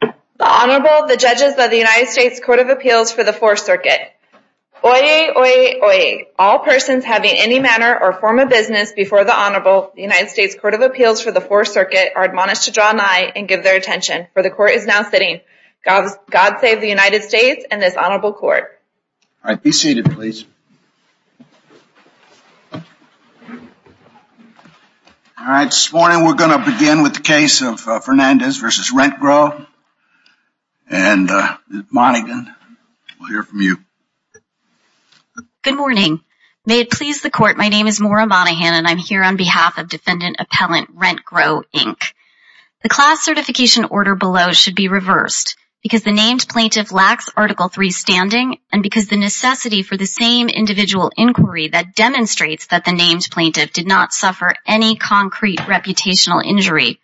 The Honorable, the Judges of the United States Court of Appeals for the Fourth Circuit. Oyez, oyez, oyez. All persons having any manner or form of business before the Honorable, the United States Court of Appeals for the Fourth Circuit, are admonished to draw nigh and give their attention, for the Court is now sitting. God save the United States and this Honorable Court. All right, be seated please. All right, this morning we're going to begin with the case of Fernandez v. RentGrow, and Monaghan, we'll hear from you. Good morning. May it please the Court, my name is Maura Monaghan and I'm here on behalf of Defendant Appellant RentGrow, Inc. The class certification order below should be reversed because the named plaintiff lacks Article 3 standing and because the necessity for the same individual inquiry that demonstrates that the named plaintiff did not suffer any concrete reputational injury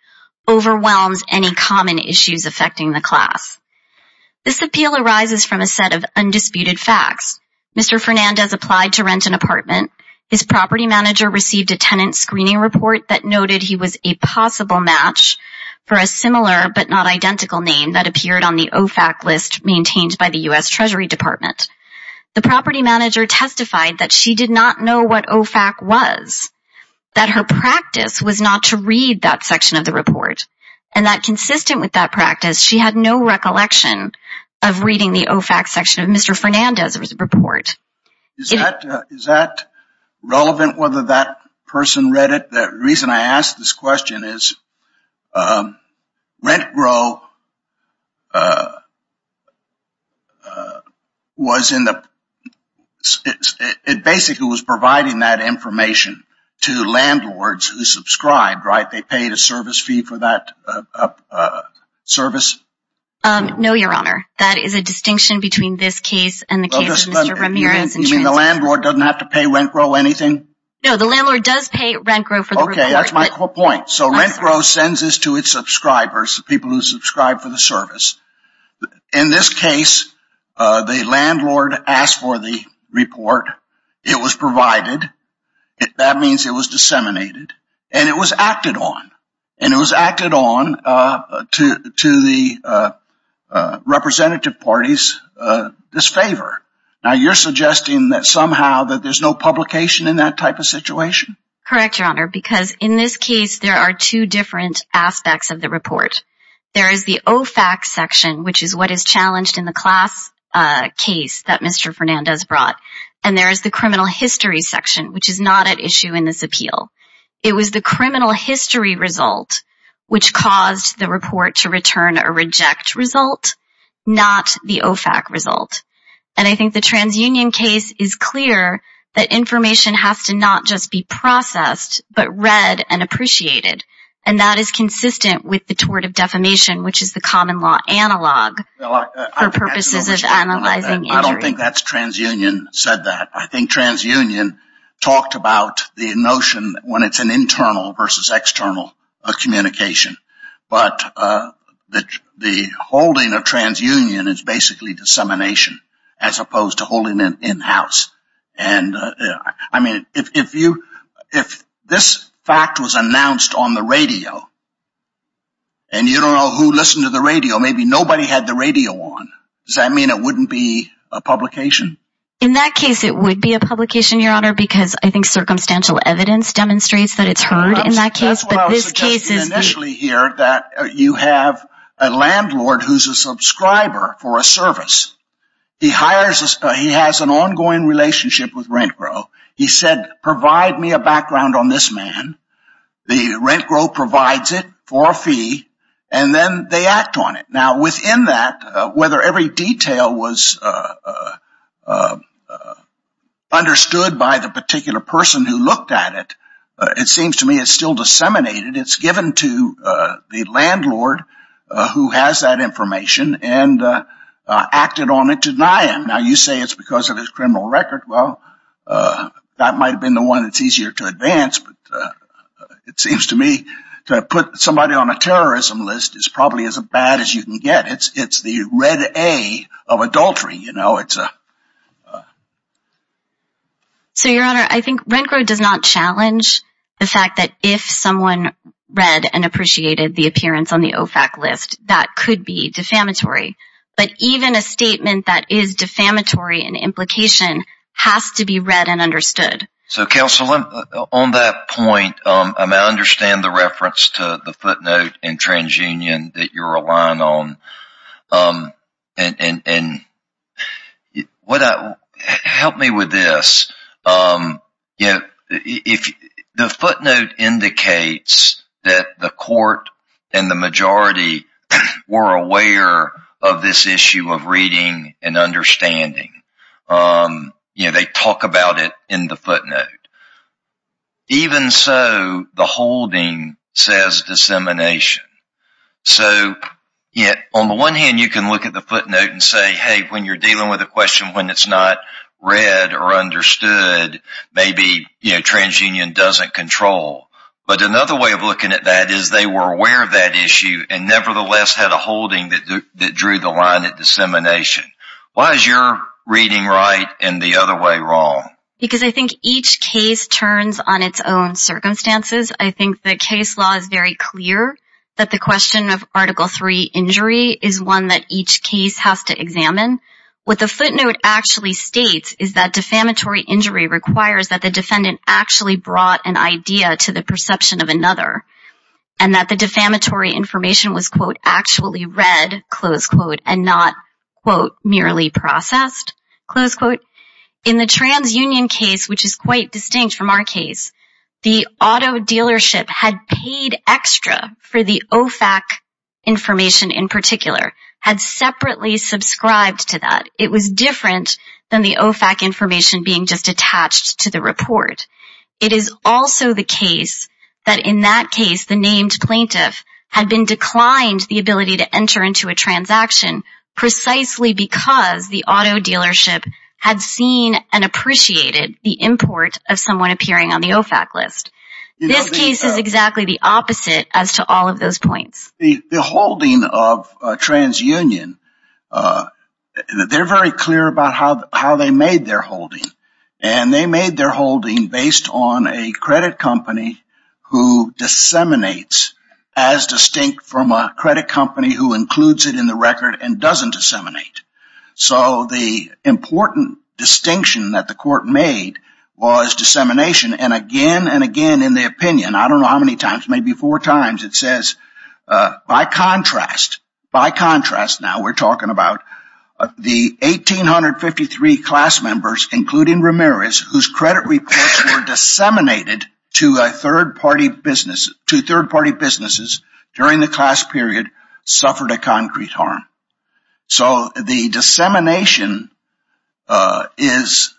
overwhelms any common issues affecting the class. This appeal arises from a set of undisputed facts. Mr. Fernandez applied to rent an apartment. His property manager received a tenant screening report that noted he was a possible match for a similar but not identical name that appeared on the OFAC list maintained by the U.S. Treasury Department. The property manager testified that she did not know what OFAC was, that her practice was not to read that section of the report, and that consistent with that practice, she had no recollection of reading the OFAC section of Mr. Fernandez's report. Is that relevant whether that person read it? The reason I ask this question is, RentGrow was in the, it basically was providing that information to landlords who subscribed, right? They paid a service fee for that service? No, Your Honor. That is a distinction between this case and the case of Mr. Ramirez. You mean the landlord doesn't have to pay RentGrow anything? No, the landlord does pay RentGrow for the report. Okay, that's my point. So RentGrow sends this to its subscribers, people who subscribe for the service. In this case, the landlord asked for the report. It was provided. That means it was disseminated. And it was acted on. And it was acted on to the representative parties' disfavor. Now, you're suggesting that somehow that there's no publication in that type of situation? Correct, Your Honor, because in this case, there are two different aspects of the report. There is the OFAC section, which is what is challenged in the class case that Mr. Fernandez brought. And there is the criminal history section, which is not at issue in this appeal. It was the criminal history result which caused the report to return a reject result, not the OFAC result. And I think the transunion case is clear that information has to not just be processed, but read and appreciated. And that is consistent with the tort of defamation, which is the common law analog for purposes of analyzing injury. I think transunion said that. I think transunion talked about the notion when it's an internal versus external communication. But the holding of transunion is basically dissemination as opposed to holding it in-house. And I mean, if this fact was announced on the radio and you don't know who listened to the radio, maybe nobody had the radio on. Does that mean it wouldn't be a publication? In that case, it would be a publication, Your Honor, because I think circumstantial evidence demonstrates that it's heard in that case. That's what I was suggesting initially here, that you have a landlord who's a subscriber for a service. He has an ongoing relationship with RentGro. He said, provide me a background on this man. The RentGro provides it for a fee, and then they act on it. Now, within that, whether every detail was understood by the particular person who looked at it, it seems to me it's still disseminated. It's given to the landlord who has that information and acted on it to deny him. Now, you say it's because of his criminal record. Well, that might have been the one that's easier to advance. But it seems to me to put somebody on a terrorism list is probably as bad as you can get. It's the red A of adultery. So, Your Honor, I think RentGro does not challenge the fact that if someone read and appreciated the appearance on the OFAC list, that could be defamatory. But even a statement that is defamatory in implication has to be read and understood. So, Counsel, on that point, I understand the reference to the footnote in TransUnion that you're relying on. Help me with this. The footnote indicates that the court and the majority were aware of this issue of reading and understanding. They talk about it in the footnote. Even so, the holding says dissemination. So, on the one hand, you can look at the footnote and say, hey, when you're dealing with a question when it's not read or understood, maybe TransUnion doesn't control. But another way of looking at that is they were aware of that issue and nevertheless had a holding that drew the line at dissemination. Why is your reading right and the other way wrong? Because I think each case turns on its own circumstances. I think the case law is very clear that the question of Article III injury is one that each case has to examine. What the footnote actually states is that defamatory injury requires that the defendant actually brought an idea to the perception of another and that the defamatory information was, quote, actually read, close quote, and not, quote, merely processed, close quote. In the TransUnion case, which is quite distinct from our case, the auto dealership had paid extra for the OFAC information in particular, had separately subscribed to that. It was different than the OFAC information being just attached to the report. It is also the case that in that case the named plaintiff had been declined the ability to enter into a transaction precisely because the auto dealership had seen and appreciated the import of someone appearing on the OFAC list. This case is exactly the opposite as to all of those points. The holding of TransUnion, they're very clear about how they made their holding. And they made their holding based on a credit company who disseminates as distinct from a credit company who includes it in the record and doesn't disseminate. So the important distinction that the court made was dissemination. And again and again in the opinion, I don't know how many times, maybe four times, it says by contrast, by contrast now we're talking about the 1,853 class members, including Ramirez, whose credit reports were disseminated to third-party businesses during the class period suffered a concrete harm. So the dissemination is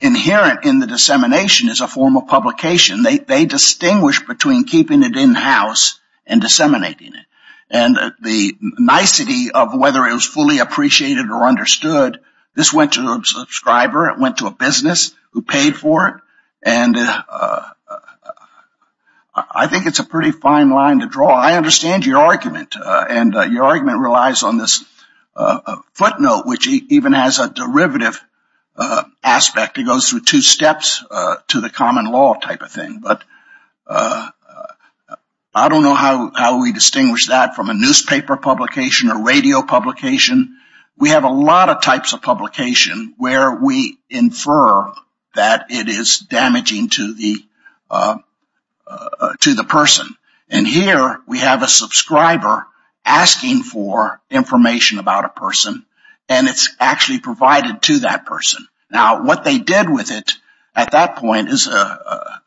inherent in the dissemination as a form of publication. They distinguish between keeping it in-house and disseminating it. And the nicety of whether it was fully appreciated or understood, this went to a subscriber. It went to a business who paid for it. And I think it's a pretty fine line to draw. I understand your argument. And your argument relies on this footnote, which even has a derivative aspect. It goes through two steps to the common law type of thing. But I don't know how we distinguish that from a newspaper publication or radio publication. We have a lot of types of publication where we infer that it is damaging to the person. And here we have a subscriber asking for information about a person. And it's actually provided to that person. Now, what they did with it at that point is a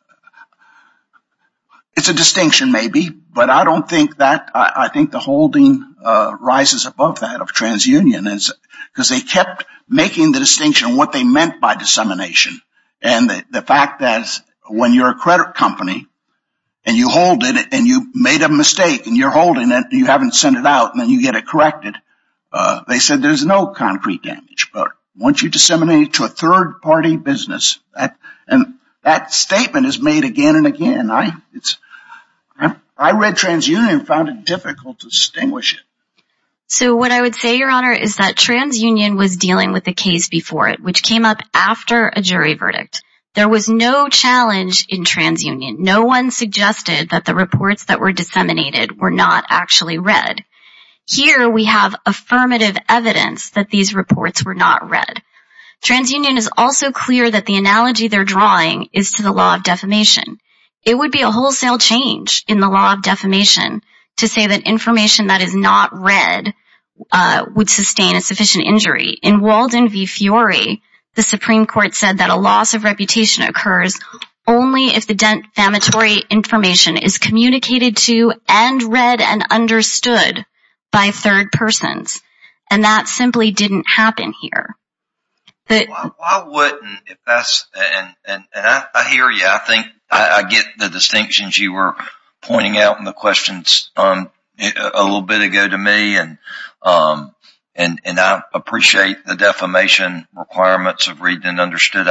distinction maybe. But I don't think that the holding rises above that of transunion. Because they kept making the distinction of what they meant by dissemination. And the fact that when you're a credit company and you hold it and you made a mistake and you're holding it and you haven't sent it out and then you get it corrected, they said there's no concrete damage. But once you disseminate it to a third-party business, that statement is made again and again. I read transunion and found it difficult to distinguish it. So what I would say, Your Honor, is that transunion was dealing with a case before it, which came up after a jury verdict. There was no challenge in transunion. No one suggested that the reports that were disseminated were not actually read. Here we have affirmative evidence that these reports were not read. Transunion is also clear that the analogy they're drawing is to the law of defamation. It would be a wholesale change in the law of defamation to say that information that is not read would sustain a sufficient injury. In Walden v. Fiore, the Supreme Court said that a loss of reputation occurs only if the defamatory information is communicated to and read and understood by third persons. And that simply didn't happen here. I hear you. I get the distinctions you were pointing out in the questions a little bit ago to me, and I appreciate the defamation requirements of read and understood.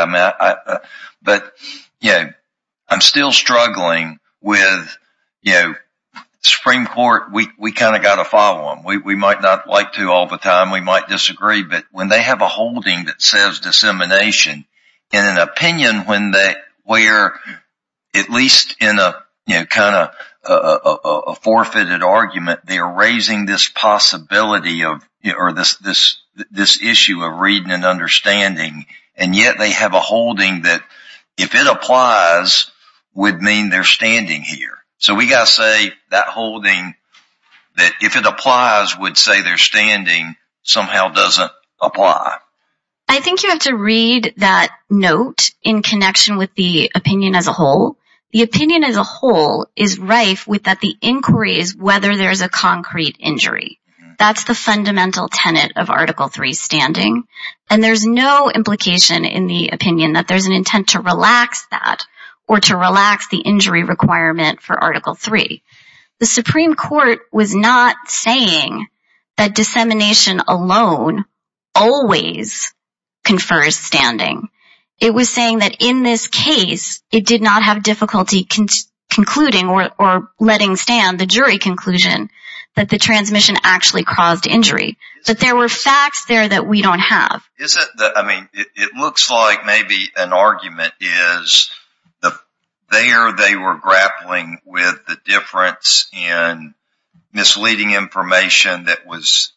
But I'm still struggling with the Supreme Court. We kind of got to follow them. We might not like to all the time. We might disagree. But when they have a holding that says dissemination in an opinion where, at least in a kind of forfeited argument, they are raising this possibility or this issue of reading and understanding, and yet they have a holding that, if it applies, would mean they're standing here. So we got to say that holding that, if it applies, would say they're standing somehow doesn't apply. I think you have to read that note in connection with the opinion as a whole. The opinion as a whole is rife with that the inquiry is whether there is a concrete injury. That's the fundamental tenet of Article III's standing. And there's no implication in the opinion that there's an intent to relax that or to relax the injury requirement for Article III. The Supreme Court was not saying that dissemination alone always confers standing. It was saying that in this case, it did not have difficulty concluding or letting stand the jury conclusion that the transmission actually caused injury. But there were facts there that we don't have. I mean, it looks like maybe an argument is there they were grappling with the difference in misleading information that was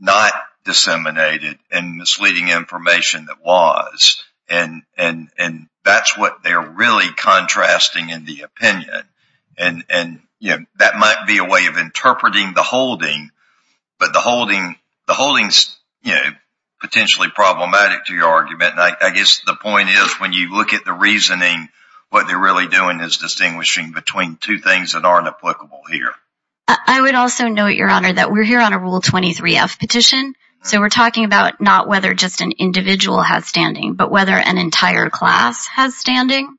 not disseminated and misleading information that was. And that's what they're really contrasting in the opinion. And that might be a way of interpreting the holding. But the holding is potentially problematic to your argument. I guess the point is, when you look at the reasoning, what they're really doing is distinguishing between two things that aren't applicable here. I would also note, Your Honor, that we're here on a Rule 23-F petition. So we're talking about not whether just an individual has standing, but whether an entire class has standing.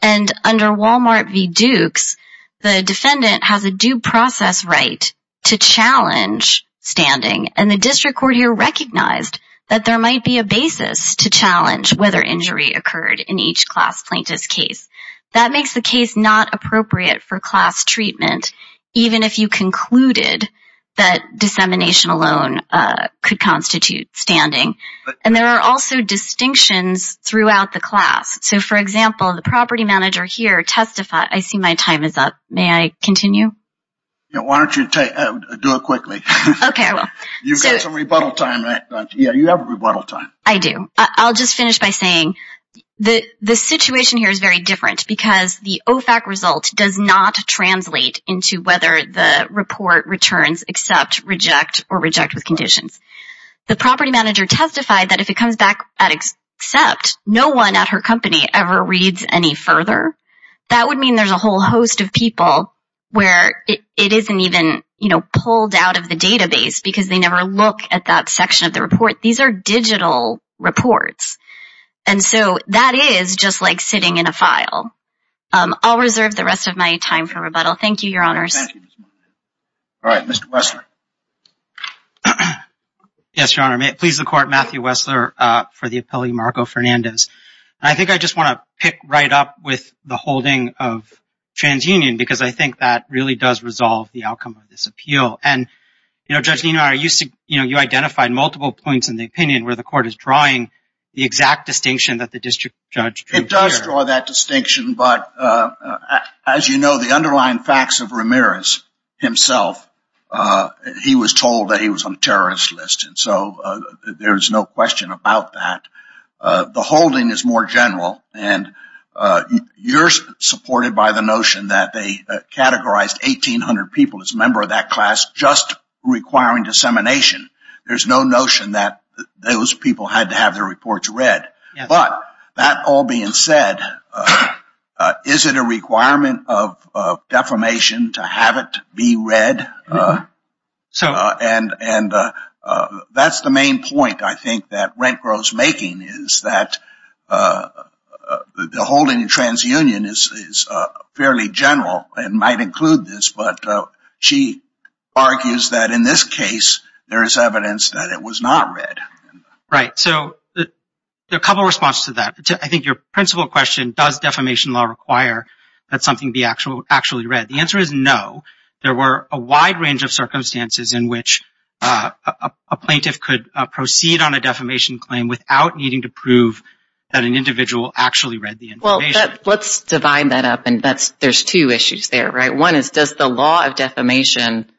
And under Walmart v. Dukes, the defendant has a due process right to challenge standing. And the district court here recognized that there might be a basis to challenge whether injury occurred in each class plaintiff's case. That makes the case not appropriate for class treatment, even if you concluded that dissemination alone could constitute standing. And there are also distinctions throughout the class. So, for example, the property manager here testified. I see my time is up. May I continue? Why don't you do it quickly? Okay, I will. You've got some rebuttal time, right? Yeah, you have rebuttal time. I do. I'll just finish by saying the situation here is very different, because the OFAC result does not translate into whether the report returns accept, reject, or reject with conditions. The property manager testified that if it comes back at accept, no one at her company ever reads any further. That would mean there's a whole host of people where it isn't even pulled out of the database because they never look at that section of the report. These are digital reports. And so that is just like sitting in a file. I'll reserve the rest of my time for rebuttal. Thank you, Your Honors. All right, Mr. Wessler. Yes, Your Honor. May it please the Court, Matthew Wessler for the appellee, Marco Fernandez. I think I just want to pick right up with the holding of TransUnion, because I think that really does resolve the outcome of this appeal. And, you know, Judge Nenar, you identified multiple points in the opinion where the Court is drawing the exact distinction that the district judge drew here. It does draw that distinction, but as you know, the underlying facts of Ramirez himself, he was told that he was on a terrorist list, and so there's no question about that. The holding is more general, and you're supported by the notion that they categorized 1,800 people as a member of that class just requiring dissemination. There's no notion that those people had to have their reports read. But, that all being said, is it a requirement of defamation to have it be read? And that's the main point I think that Rent Grows Making is that the holding of TransUnion is fairly general and might include this, but she argues that in this case, there is evidence that it was not read. Right, so there are a couple of responses to that. I think your principal question, does defamation law require that something be actually read? The answer is no. There were a wide range of circumstances in which a plaintiff could proceed on a defamation claim without needing to prove that an individual actually read the information. Well, let's divide that up, and there's two issues there, right? One is does the law of defamation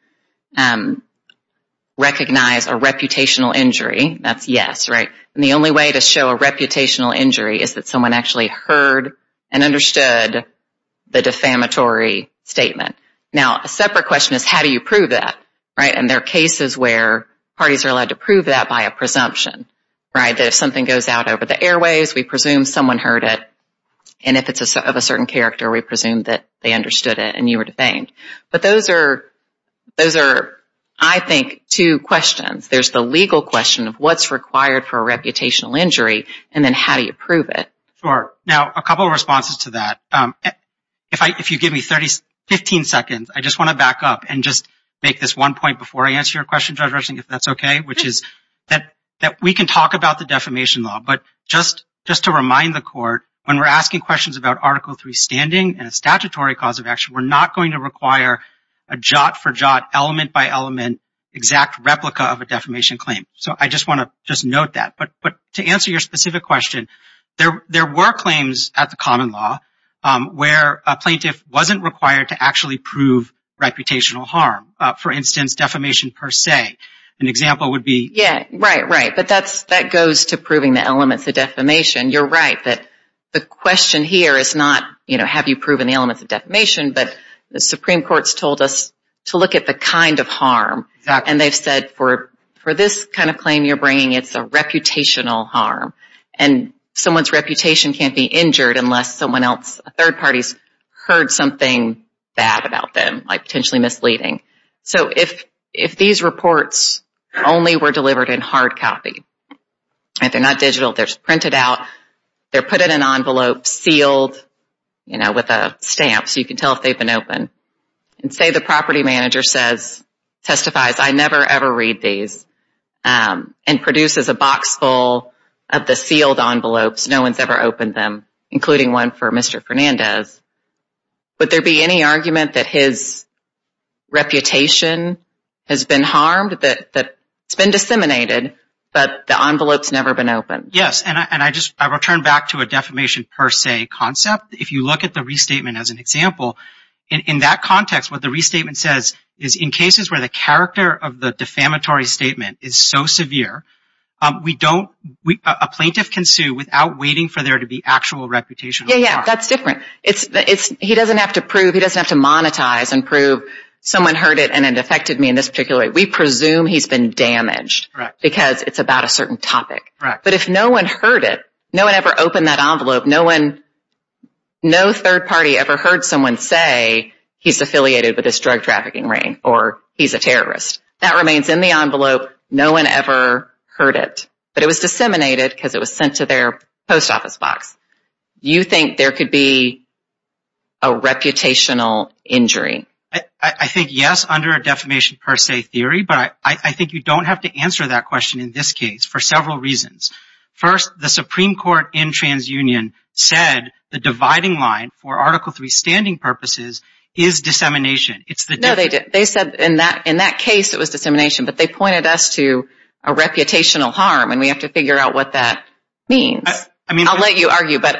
recognize a reputational injury? That's yes, right? And the only way to show a reputational injury is that someone actually heard and understood the defamatory statement. Now, a separate question is how do you prove that, right? And there are cases where parties are allowed to prove that by a presumption, right? That if something goes out over the airwaves, we presume someone heard it, and if it's of a certain character, we presume that they understood it and you were defamed. But those are, I think, two questions. There's the legal question of what's required for a reputational injury, and then how do you prove it? Sure. Now, a couple of responses to that. If you give me 15 seconds, I just want to back up and just make this one point before I answer your question, Judge Rushing, if that's okay, which is that we can talk about the defamation law, but just to remind the court, when we're asking questions about Article III standing and a statutory cause of action, we're not going to require a jot for jot, element by element, exact replica of a defamation claim. So I just want to just note that. But to answer your specific question, there were claims at the common law where a plaintiff wasn't required to actually prove reputational harm, for instance, defamation per se. An example would be… Yeah, right, right. But that goes to proving the elements of defamation. You're right that the question here is not, you know, have you proven the elements of defamation, but the Supreme Court's told us to look at the kind of harm, and they've said for this kind of claim you're bringing, it's a reputational harm, and someone's reputation can't be injured unless someone else, a third party's heard something bad about them, like potentially misleading. So if these reports only were delivered in hard copy, if they're not digital, they're printed out, they're put in an envelope, sealed, you know, with a stamp so you can tell if they've been opened, and say the property manager says, testifies, I never, ever read these, and produces a box full of the sealed envelopes, no one's ever opened them, including one for Mr. Fernandez, would there be any argument that his reputation has been harmed, that it's been disseminated, but the envelope's never been opened? Yes, and I return back to a defamation per se concept. If you look at the restatement as an example, in that context, what the restatement says is in cases where the character of the defamatory statement is so severe, a plaintiff can sue without waiting for there to be actual reputational harm. Yeah, yeah, that's different. He doesn't have to prove, he doesn't have to monetize and prove someone heard it and it affected me in this particular way. We presume he's been damaged because it's about a certain topic. But if no one heard it, no one ever opened that envelope, no third party ever heard someone say he's affiliated with this drug trafficking ring or he's a terrorist. That remains in the envelope, no one ever heard it. But it was disseminated because it was sent to their post office box. Do you think there could be a reputational injury? I think yes, under a defamation per se theory, but I think you don't have to answer that question in this case for several reasons. First, the Supreme Court in TransUnion said the dividing line for Article III standing purposes is dissemination. No, they said in that case it was dissemination, but they pointed us to a reputational harm and we have to figure out what that means. I'll let you argue, but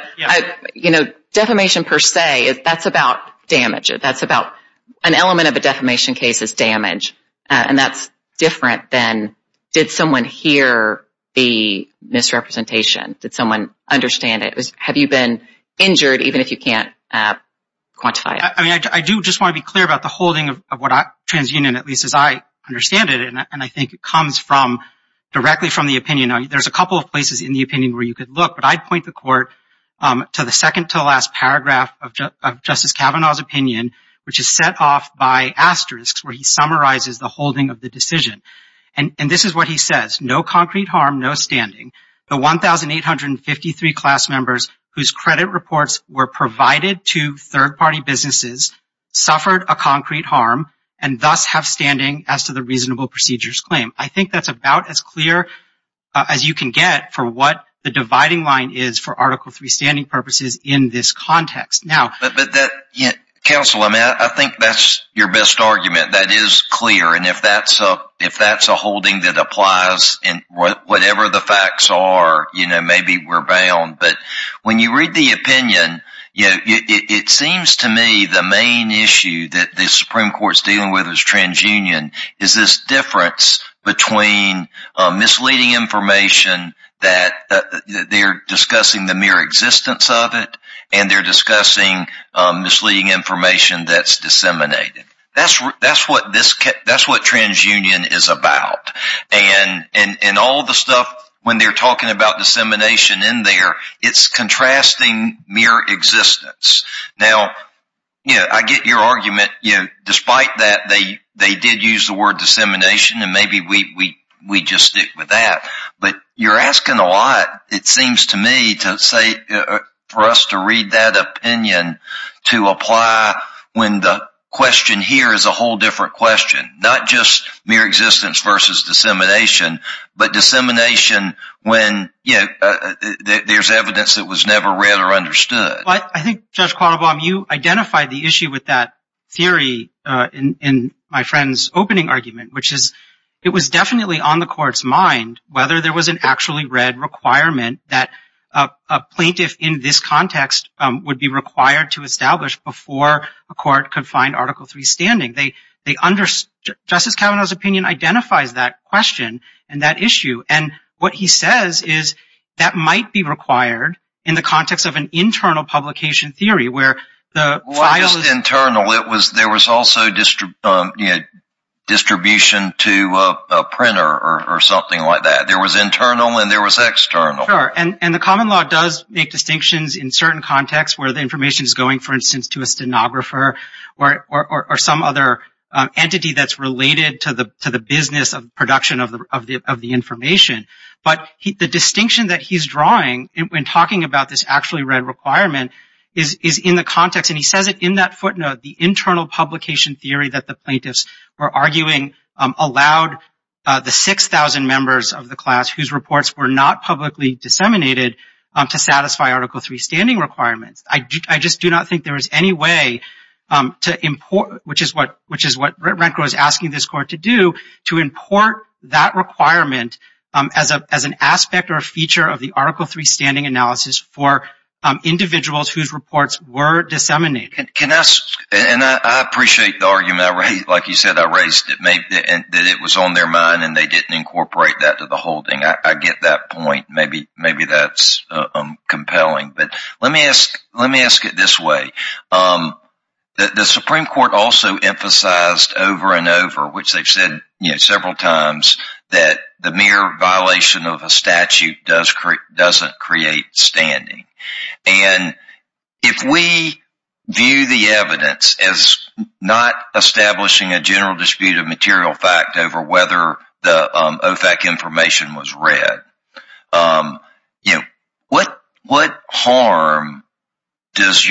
defamation per se, that's about damage. That's about an element of a defamation case is damage, and that's different than did someone hear the misrepresentation? Did someone understand it? Have you been injured even if you can't quantify it? I do just want to be clear about the holding of what TransUnion, at least as I understand it, and I think it comes directly from the opinion. There's a couple of places in the opinion where you could look, but I'd point the court to the second to the last paragraph of Justice Kavanaugh's opinion, which is set off by asterisks where he summarizes the holding of the decision. And this is what he says, no concrete harm, no standing. The 1,853 class members whose credit reports were provided to third-party businesses suffered a concrete harm and thus have standing as to the reasonable procedures claim. I think that's about as clear as you can get for what the dividing line is for Article III standing purposes in this context. Counsel, I think that's your best argument. That is clear, and if that's a holding that applies in whatever the facts are, maybe we're bound. But when you read the opinion, it seems to me the main issue that the Supreme Court's dealing with with TransUnion is this difference between misleading information that they're discussing the mere existence of it and they're discussing misleading information that's disseminated. That's what TransUnion is about. And all the stuff when they're talking about dissemination in there, it's contrasting mere existence. Now, I get your argument. Despite that, they did use the word dissemination, and maybe we just stick with that. But you're asking a lot, it seems to me, for us to read that opinion to apply when the question here is a whole different question, not just mere existence versus dissemination, but dissemination when there's evidence that was never read or understood. Well, I think, Judge Quattlebaum, you identified the issue with that theory in my friend's opening argument, which is it was definitely on the Court's mind whether there was an actually read requirement that a plaintiff in this context would be required to establish before a court could find Article III standing. Justice Kavanaugh's opinion identifies that question and that issue. And what he says is that might be required in the context of an internal publication theory where the file is- Well, not just internal. There was also distribution to a printer or something like that. There was internal and there was external. Sure. And the common law does make distinctions in certain contexts where the information is going, for instance, to a stenographer or some other entity that's related to the business of production of the information. But the distinction that he's drawing when talking about this actually read requirement is in the context, and he says it in that footnote, the internal publication theory that the plaintiffs were arguing allowed the 6,000 members of the class whose reports were not publicly disseminated to satisfy Article III standing requirements. I just do not think there is any way to import, which is what RentGrow is asking this Court to do, to import that requirement as an aspect or a feature of the Article III standing analysis for individuals whose reports were disseminated. And I appreciate the argument, like you said, I raised that it was on their mind and they didn't incorporate that to the holding. I get that point. Maybe that's compelling. But let me ask it this way. The Supreme Court also emphasized over and over, which they've said several times, that the mere violation of a statute doesn't create standing. And if we view the evidence as not establishing a general dispute of material fact over whether the OFAC information was read, what harm does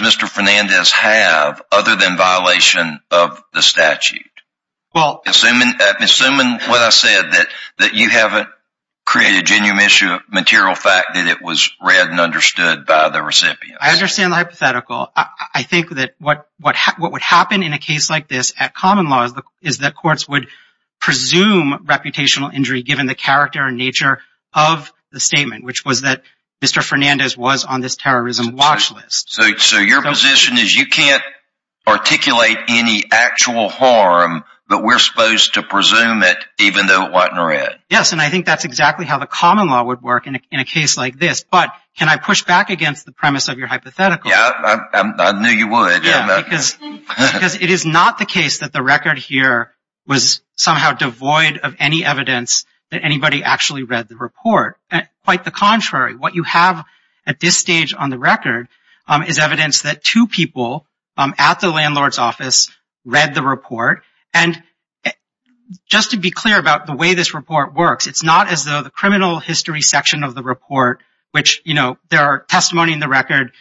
Mr. Fernandez have other than violation of the statute? Assuming what I said, that you haven't created a genuine issue of material fact that it was read and understood by the recipients. I understand the hypothetical. I think that what would happen in a case like this at common law is that courts would presume reputational injury given the character and nature of the statement, which was that Mr. Fernandez was on this terrorism watch list. So your position is you can't articulate any actual harm, but we're supposed to presume it even though it wasn't read? Yes, and I think that's exactly how the common law would work in a case like this. But can I push back against the premise of your hypothetical? Yeah, I knew you would. Because it is not the case that the record here was somehow devoid of any evidence that anybody actually read the report. Quite the contrary. What you have at this stage on the record is evidence that two people at the landlord's office read the report. And just to be clear about the way this report works, it's not as though the criminal history section of the report, which there are testimony in the record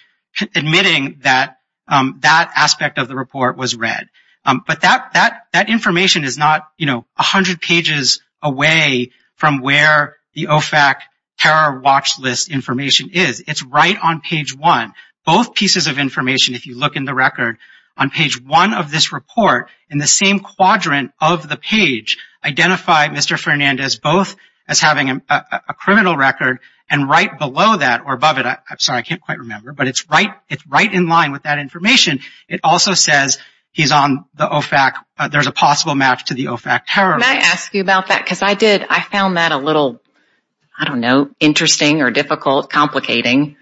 admitting that that aspect of the report was read. But that information is not 100 pages away from where the OFAC terror watch list information is. It's right on page one. Both pieces of information, if you look in the record, on page one of this report in the same quadrant of the page, identify Mr. Fernandez both as having a criminal record and right below that or above it. I'm sorry, I can't quite remember. But it's right in line with that information. It also says he's on the OFAC. There's a possible match to the OFAC terror watch list. Can I ask you about that? Because I did. I found that a little, I don't know, interesting or difficult, complicating.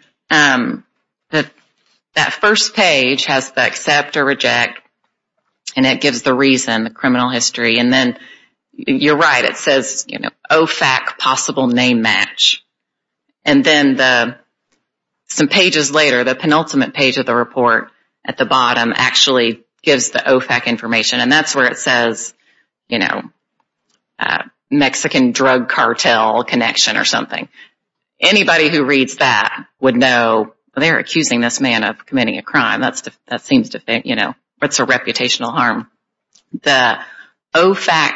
That first page has the accept or reject, and it gives the reason, the criminal history. And then you're right, it says OFAC possible name match. And then some pages later, the penultimate page of the report at the bottom actually gives the OFAC information. And that's where it says Mexican drug cartel connection or something. Anybody who reads that would know they're accusing this man of committing a crime. That seems to fit, you know, it's a reputational harm. The OFAC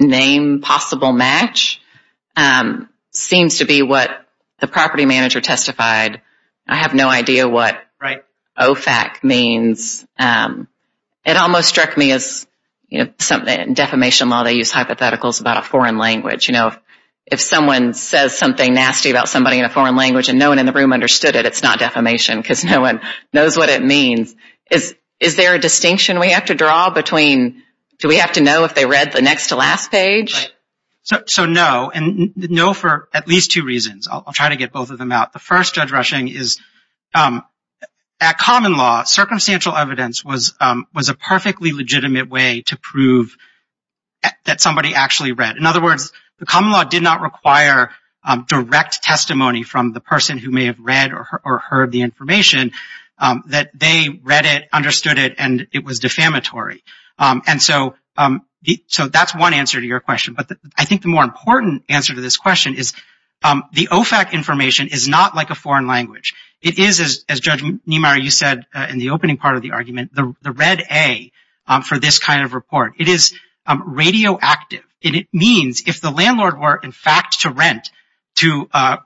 name possible match seems to be what the property manager testified. I have no idea what OFAC means. It almost struck me as something, defamation law, they use hypotheticals about a foreign language. You know, if someone says something nasty about somebody in a foreign language and no one in the room understood it, it's not defamation because no one knows what it means. Is there a distinction we have to draw between do we have to know if they read the next to last page? So no, and no for at least two reasons. I'll try to get both of them out. The first, Judge Rushing, is at common law, circumstantial evidence was a perfectly legitimate way to prove that somebody actually read. In other words, the common law did not require direct testimony from the person who may have read or heard the information that they read it, understood it, and it was defamatory. And so that's one answer to your question. But I think the more important answer to this question is the OFAC information is not like a foreign language. It is, as Judge Niemeyer, you said in the opening part of the argument, the red A for this kind of report. It is radioactive. And it means if the landlord were, in fact, to rent to a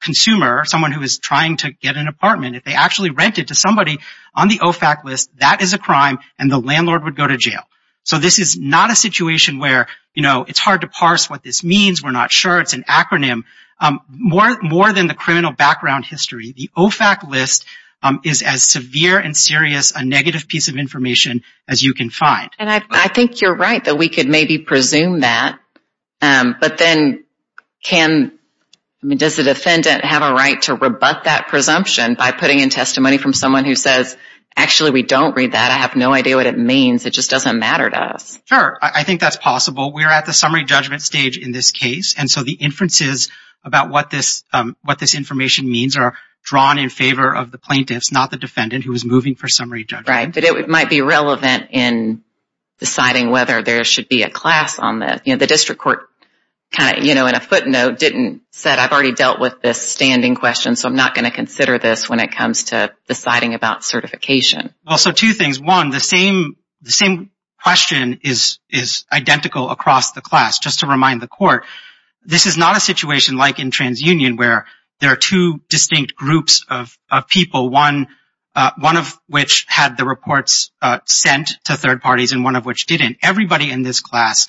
consumer, someone who is trying to get an apartment, if they actually rent it to somebody on the OFAC list, that is a crime and the landlord would go to jail. So this is not a situation where, you know, it's hard to parse what this means, we're not sure, it's an acronym. More than the criminal background history, the OFAC list is as severe and serious a negative piece of information as you can find. And I think you're right that we could maybe presume that, but then can, I mean, does the defendant have a right to rebut that presumption by putting in testimony from someone who says, actually, we don't read that, I have no idea what it means, it just doesn't matter to us. Sure, I think that's possible. We're at the summary judgment stage in this case, and so the inferences about what this information means are drawn in favor of the plaintiffs, not the defendant who is moving for summary judgment. Right, but it might be relevant in deciding whether there should be a class on this. You know, the district court kind of, you know, in a footnote didn't, said I've already dealt with this standing question, so I'm not going to consider this when it comes to deciding about certification. Well, so two things. One, the same question is identical across the class. Just to remind the court, this is not a situation like in TransUnion where there are two distinct groups of people, one of which had the reports sent to third parties and one of which didn't. Everybody in this class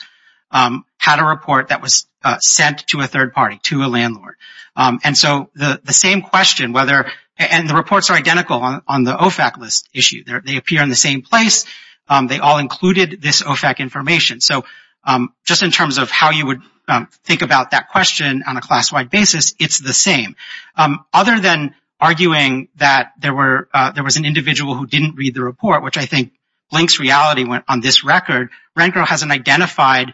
had a report that was sent to a third party, to a landlord. And so the same question, whether, and the reports are identical on the OFAC list issue. They appear in the same place. They all included this OFAC information. So just in terms of how you would think about that question on a class-wide basis, it's the same. Other than arguing that there were, there was an individual who didn't read the report, which I think blinks reality on this record, Rencro hasn't identified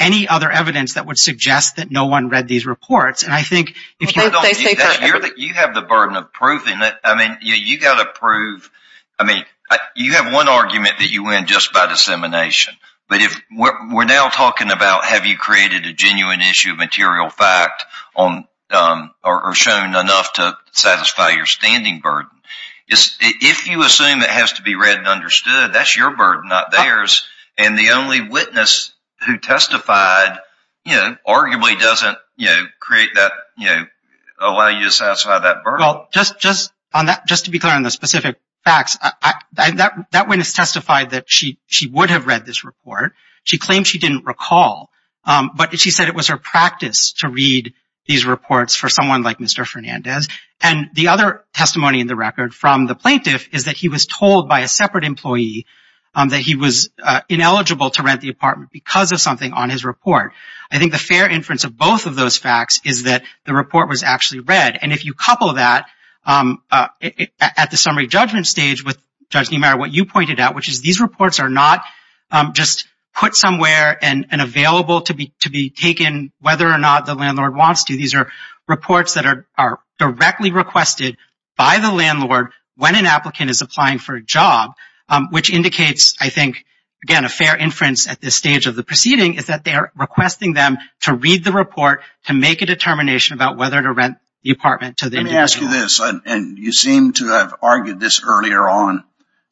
any other evidence that would suggest that no one read these reports. And I think if you don't do that, you have the burden of proving it. I mean, you got to prove, I mean, you have one argument that you win just by dissemination. But if we're now talking about have you created a genuine issue of material fact or shown enough to satisfy your standing burden, if you assume it has to be read and understood, that's your burden, not theirs. And the only witness who testified, you know, arguably doesn't, you know, create that, you know, allow you to satisfy that burden. Just to be clear on the specific facts, that witness testified that she would have read this report. She claimed she didn't recall. But she said it was her practice to read these reports for someone like Mr. Fernandez. And the other testimony in the record from the plaintiff is that he was told by a separate employee that he was ineligible to rent the apartment because of something on his report. I think the fair inference of both of those facts is that the report was actually read. And if you couple that at the summary judgment stage with, Judge Niemeyer, what you pointed out, which is these reports are not just put somewhere and available to be taken whether or not the landlord wants to. These are reports that are directly requested by the landlord when an applicant is applying for a job, which indicates, I think, again, a fair inference at this stage of the proceeding, is that they are requesting them to read the report to make a determination about whether to rent the apartment to the individual. Let me ask you this. And you seem to have argued this earlier on.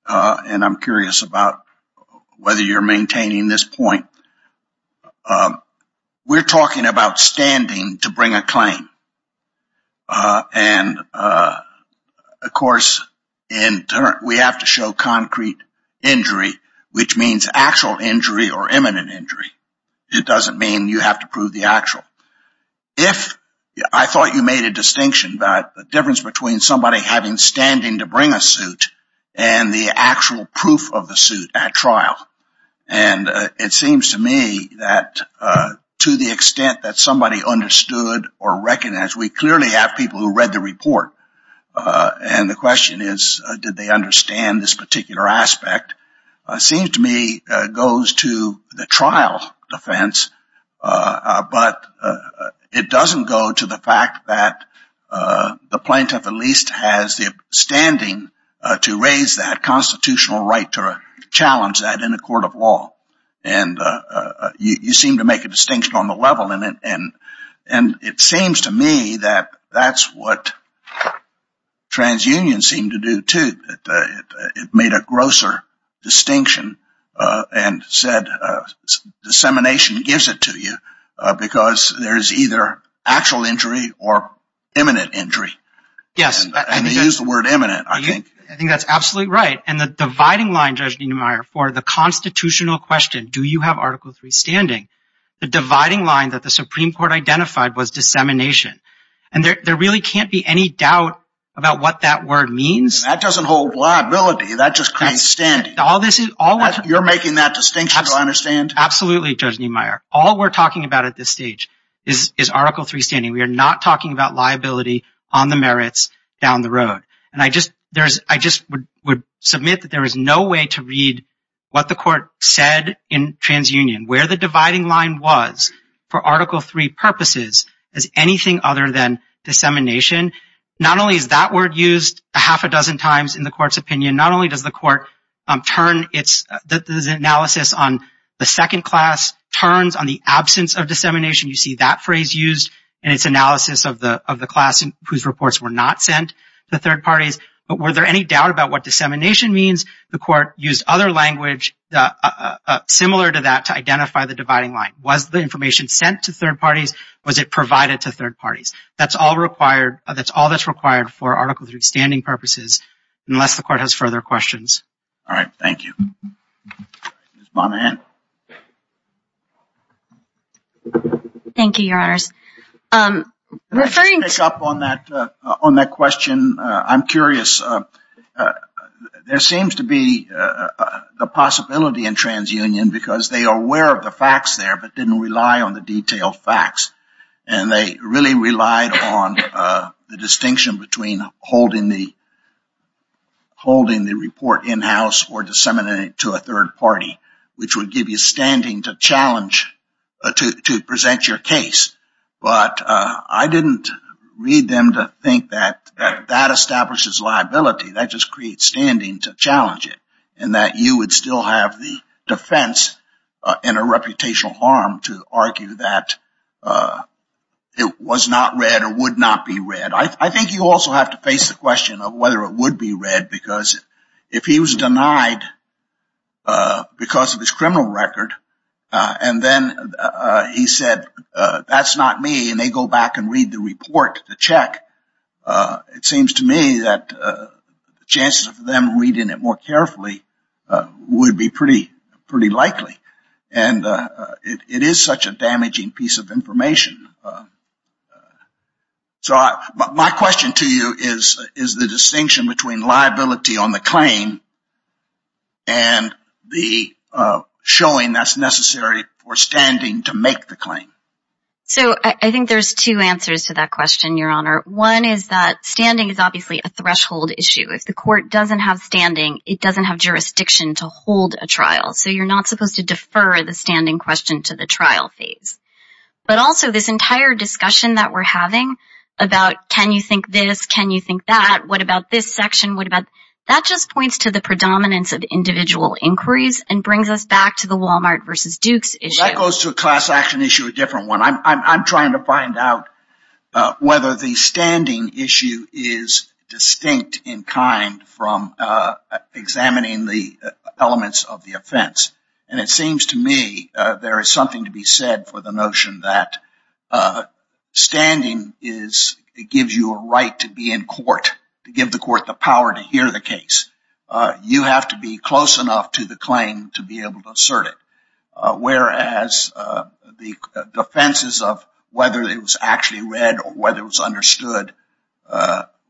And I'm curious about whether you're maintaining this point. We're talking about standing to bring a claim. And, of course, we have to show concrete injury, which means actual injury or imminent injury. It doesn't mean you have to prove the actual. If I thought you made a distinction about the difference between somebody having standing to bring a suit and the actual proof of the suit at trial. And it seems to me that to the extent that somebody understood or recognized, we clearly have people who read the report. And the question is, did they understand this particular aspect? It seems to me it goes to the trial defense, but it doesn't go to the fact that the plaintiff at least has the standing to raise that constitutional right to challenge that in a court of law. And you seem to make a distinction on the level. And it seems to me that that's what trans unions seem to do, too. It made a grosser distinction and said dissemination gives it to you because there is either actual injury or imminent injury. Yes. And you used the word imminent, I think. I think that's absolutely right. And the dividing line, Judge Niemeyer, for the constitutional question, do you have Article III standing? The dividing line that the Supreme Court identified was dissemination. And there really can't be any doubt about what that word means. That doesn't hold liability. That just creates standing. You're making that distinction, do I understand? Absolutely, Judge Niemeyer. All we're talking about at this stage is Article III standing. We are not talking about liability on the merits down the road. And I just would submit that there is no way to read what the court said in trans union, where the dividing line was for Article III purposes as anything other than dissemination. Not only is that word used a half a dozen times in the court's opinion, not only does the court turn its analysis on the second class turns on the absence of dissemination, you see that phrase used in its analysis of the class whose reports were not sent to third parties. But were there any doubt about what dissemination means? The court used other language similar to that to identify the dividing line. Was the information sent to third parties? Was it provided to third parties? That's all that's required for Article III standing purposes, unless the court has further questions. All right. Thank you. Ms. Monaghan. Thank you, Your Honors. Referring to- Can I just pick up on that question? I'm curious. There seems to be the possibility in trans union because they are aware of the facts there, but didn't rely on the detailed facts. And they really relied on the distinction between holding the report in-house or disseminating it to a third party, which would give you standing to challenge, to present your case. But I didn't read them to think that that establishes liability. That just creates standing to challenge it and that you would still have the defense in a reputational harm to argue that it was not read or would not be read. I think you also have to face the question of whether it would be read because if he was denied because of his criminal record and then he said, that's not me, and they go back and read the report, the check, it seems to me that the chances of them reading it more carefully would be pretty likely. And it is such a damaging piece of information. My question to you is the distinction between liability on the claim and the showing that's necessary for standing to make the claim. So I think there's two answers to that question, Your Honor. One is that standing is obviously a threshold issue. If the court doesn't have standing, it doesn't have jurisdiction to hold a trial. So you're not supposed to defer the standing question to the trial phase. But also this entire discussion that we're having about can you think this, can you think that, what about this section, what about that just points to the predominance of individual inquiries and brings us back to the Walmart versus Dukes issue. That goes to a class action issue, a different one. I'm trying to find out whether the standing issue is distinct in kind from examining the elements of the offense. And it seems to me there is something to be said for the notion that standing gives you a right to be in court, to give the court the power to hear the case. You have to be close enough to the claim to be able to assert it. Whereas the defenses of whether it was actually read or whether it was understood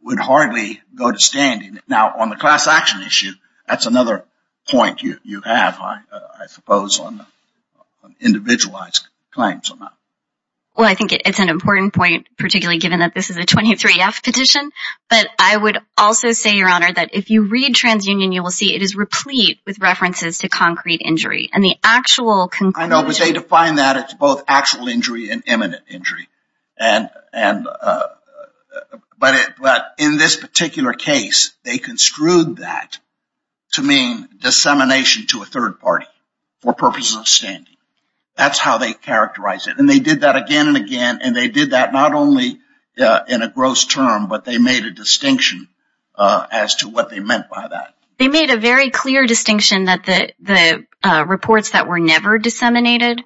would hardly go to standing. Now, on the class action issue, that's another point you have, I suppose, on individualized claims or not. Well, I think it's an important point, particularly given that this is a 23F petition. But I would also say, Your Honor, that if you read TransUnion, you will see it is replete with references to concrete injury. I know, but they define that as both actual injury and imminent injury. But in this particular case, they construed that to mean dissemination to a third party for purposes of standing. That's how they characterize it. And they did that again and again, and they did that not only in a gross term, but they made a distinction as to what they meant by that. They made a very clear distinction that the reports that were never disseminated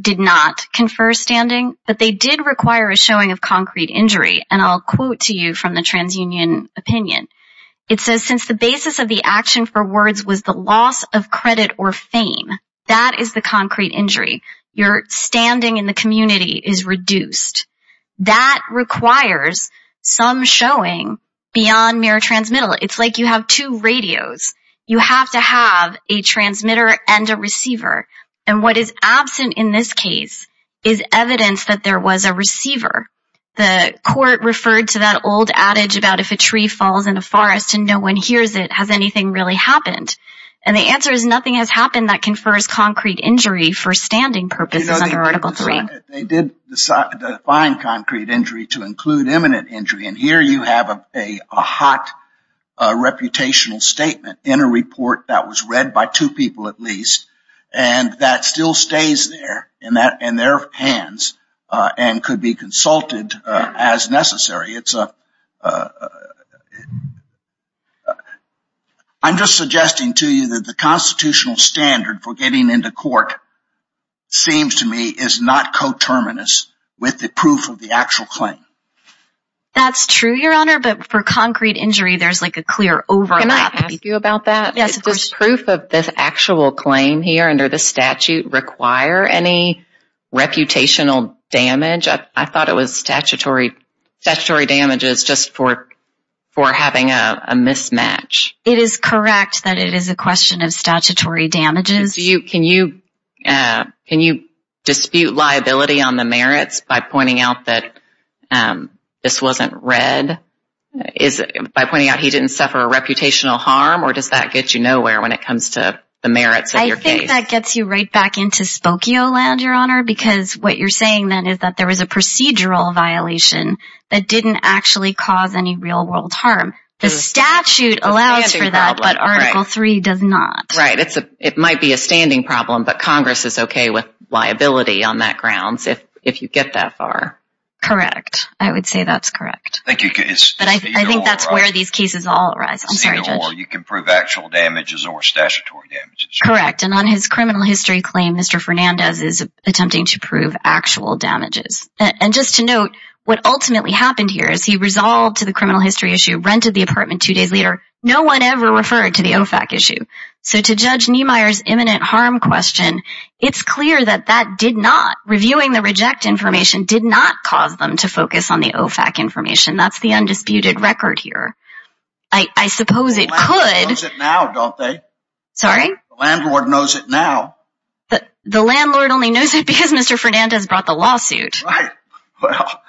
did not confer standing, but they did require a showing of concrete injury. And I'll quote to you from the TransUnion opinion. It says, Since the basis of the action for words was the loss of credit or fame, that is the concrete injury. Your standing in the community is reduced. That requires some showing beyond mere transmittal. It's like you have two radios. You have to have a transmitter and a receiver. And what is absent in this case is evidence that there was a receiver. The court referred to that old adage about if a tree falls in a forest and no one hears it, has anything really happened? And the answer is nothing has happened that confers concrete injury for standing purposes under Article 3. They did define concrete injury to include imminent injury. And here you have a hot reputational statement in a report that was read by two people at least, and that still stays there in their hands and could be consulted as necessary. I'm just suggesting to you that the constitutional standard for getting into court seems to me is not coterminous with the proof of the actual claim. That's true, Your Honor, but for concrete injury, there's like a clear overlap. Can I ask you about that? Yes, of course. Does proof of this actual claim here under the statute require any reputational damage? I thought it was statutory damages just for having a mismatch. It is correct that it is a question of statutory damages. Can you dispute liability on the merits by pointing out that this wasn't read? By pointing out he didn't suffer a reputational harm, or does that get you nowhere when it comes to the merits of your case? I think that gets you right back into Spokio land, Your Honor, because what you're saying then is that there was a procedural violation that didn't actually cause any real-world harm. The statute allows for that, but Article III does not. Right. It might be a standing problem, but Congress is okay with liability on that grounds if you get that far. Correct. I would say that's correct. But I think that's where these cases all arise. I'm sorry, Judge. Well, you can prove actual damages or statutory damages. Correct. And on his criminal history claim, Mr. Fernandez is attempting to prove actual damages. And just to note, what ultimately happened here is he resolved to the criminal history issue, rented the apartment two days later, no one ever referred to the OFAC issue. So to Judge Niemeyer's imminent harm question, it's clear that that did not, reviewing the reject information did not cause them to focus on the OFAC information. That's the undisputed record here. I suppose it could. The landlord knows it now, don't they? Sorry? The landlord knows it now. The landlord only knows it because Mr. Fernandez brought the lawsuit. Right. Well.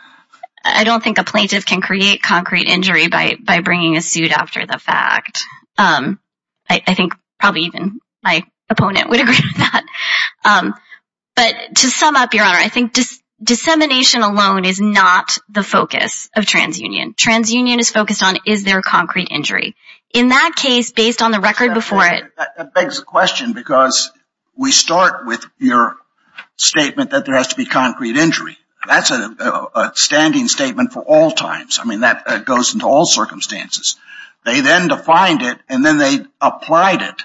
I don't think a plaintiff can create concrete injury by bringing a suit after the fact. I think probably even my opponent would agree with that. But to sum up, Your Honor, I think dissemination alone is not the focus of transunion. Transunion is focused on is there concrete injury. In that case, based on the record before it. That begs the question because we start with your statement that there has to be concrete injury. That's a standing statement for all times. I mean, that goes into all circumstances. They then defined it and then they applied it.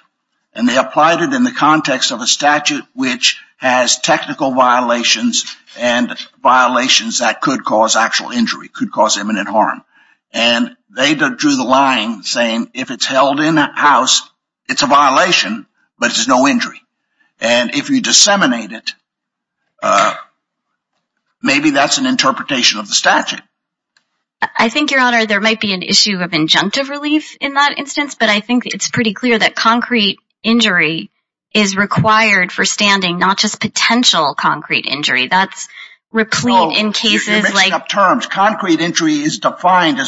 And they applied it in the context of a statute which has technical violations and violations that could cause actual injury, could cause imminent harm. And they drew the line saying if it's held in a house, it's a violation, but it's no injury. And if you disseminate it, maybe that's an interpretation of the statute. I think, Your Honor, there might be an issue of injunctive relief in that instance. But I think it's pretty clear that concrete injury is required for standing, not just potential concrete injury. That's replete in cases like. You're mixing up terms. Concrete injury is defined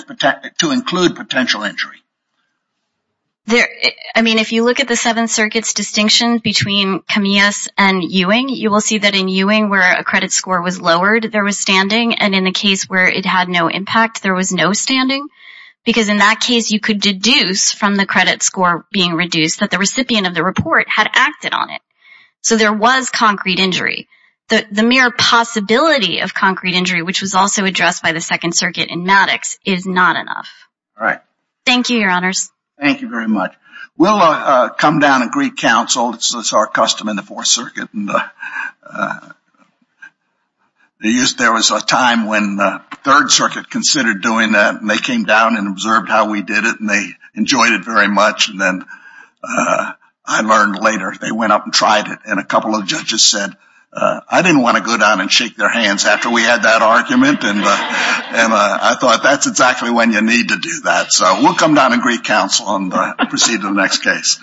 to include potential injury. I mean, if you look at the Seventh Circuit's distinction between Camillas and Ewing, you will see that in Ewing where a credit score was lowered, there was standing. And in the case where it had no impact, there was no standing. Because in that case, you could deduce from the credit score being reduced that the recipient of the report had acted on it. So there was concrete injury. The mere possibility of concrete injury, which was also addressed by the Second Circuit in Maddox, is not enough. All right. Thank you, Your Honors. Thank you very much. We'll come down and greet counsel. It's our custom in the Fourth Circuit. There was a time when the Third Circuit considered doing that. And they came down and observed how we did it. And they enjoyed it very much. And then I learned later, they went up and tried it. And a couple of judges said, I didn't want to go down and shake their hands after we had that argument. And I thought, that's exactly when you need to do that. So we'll come down and greet counsel and proceed to the next case.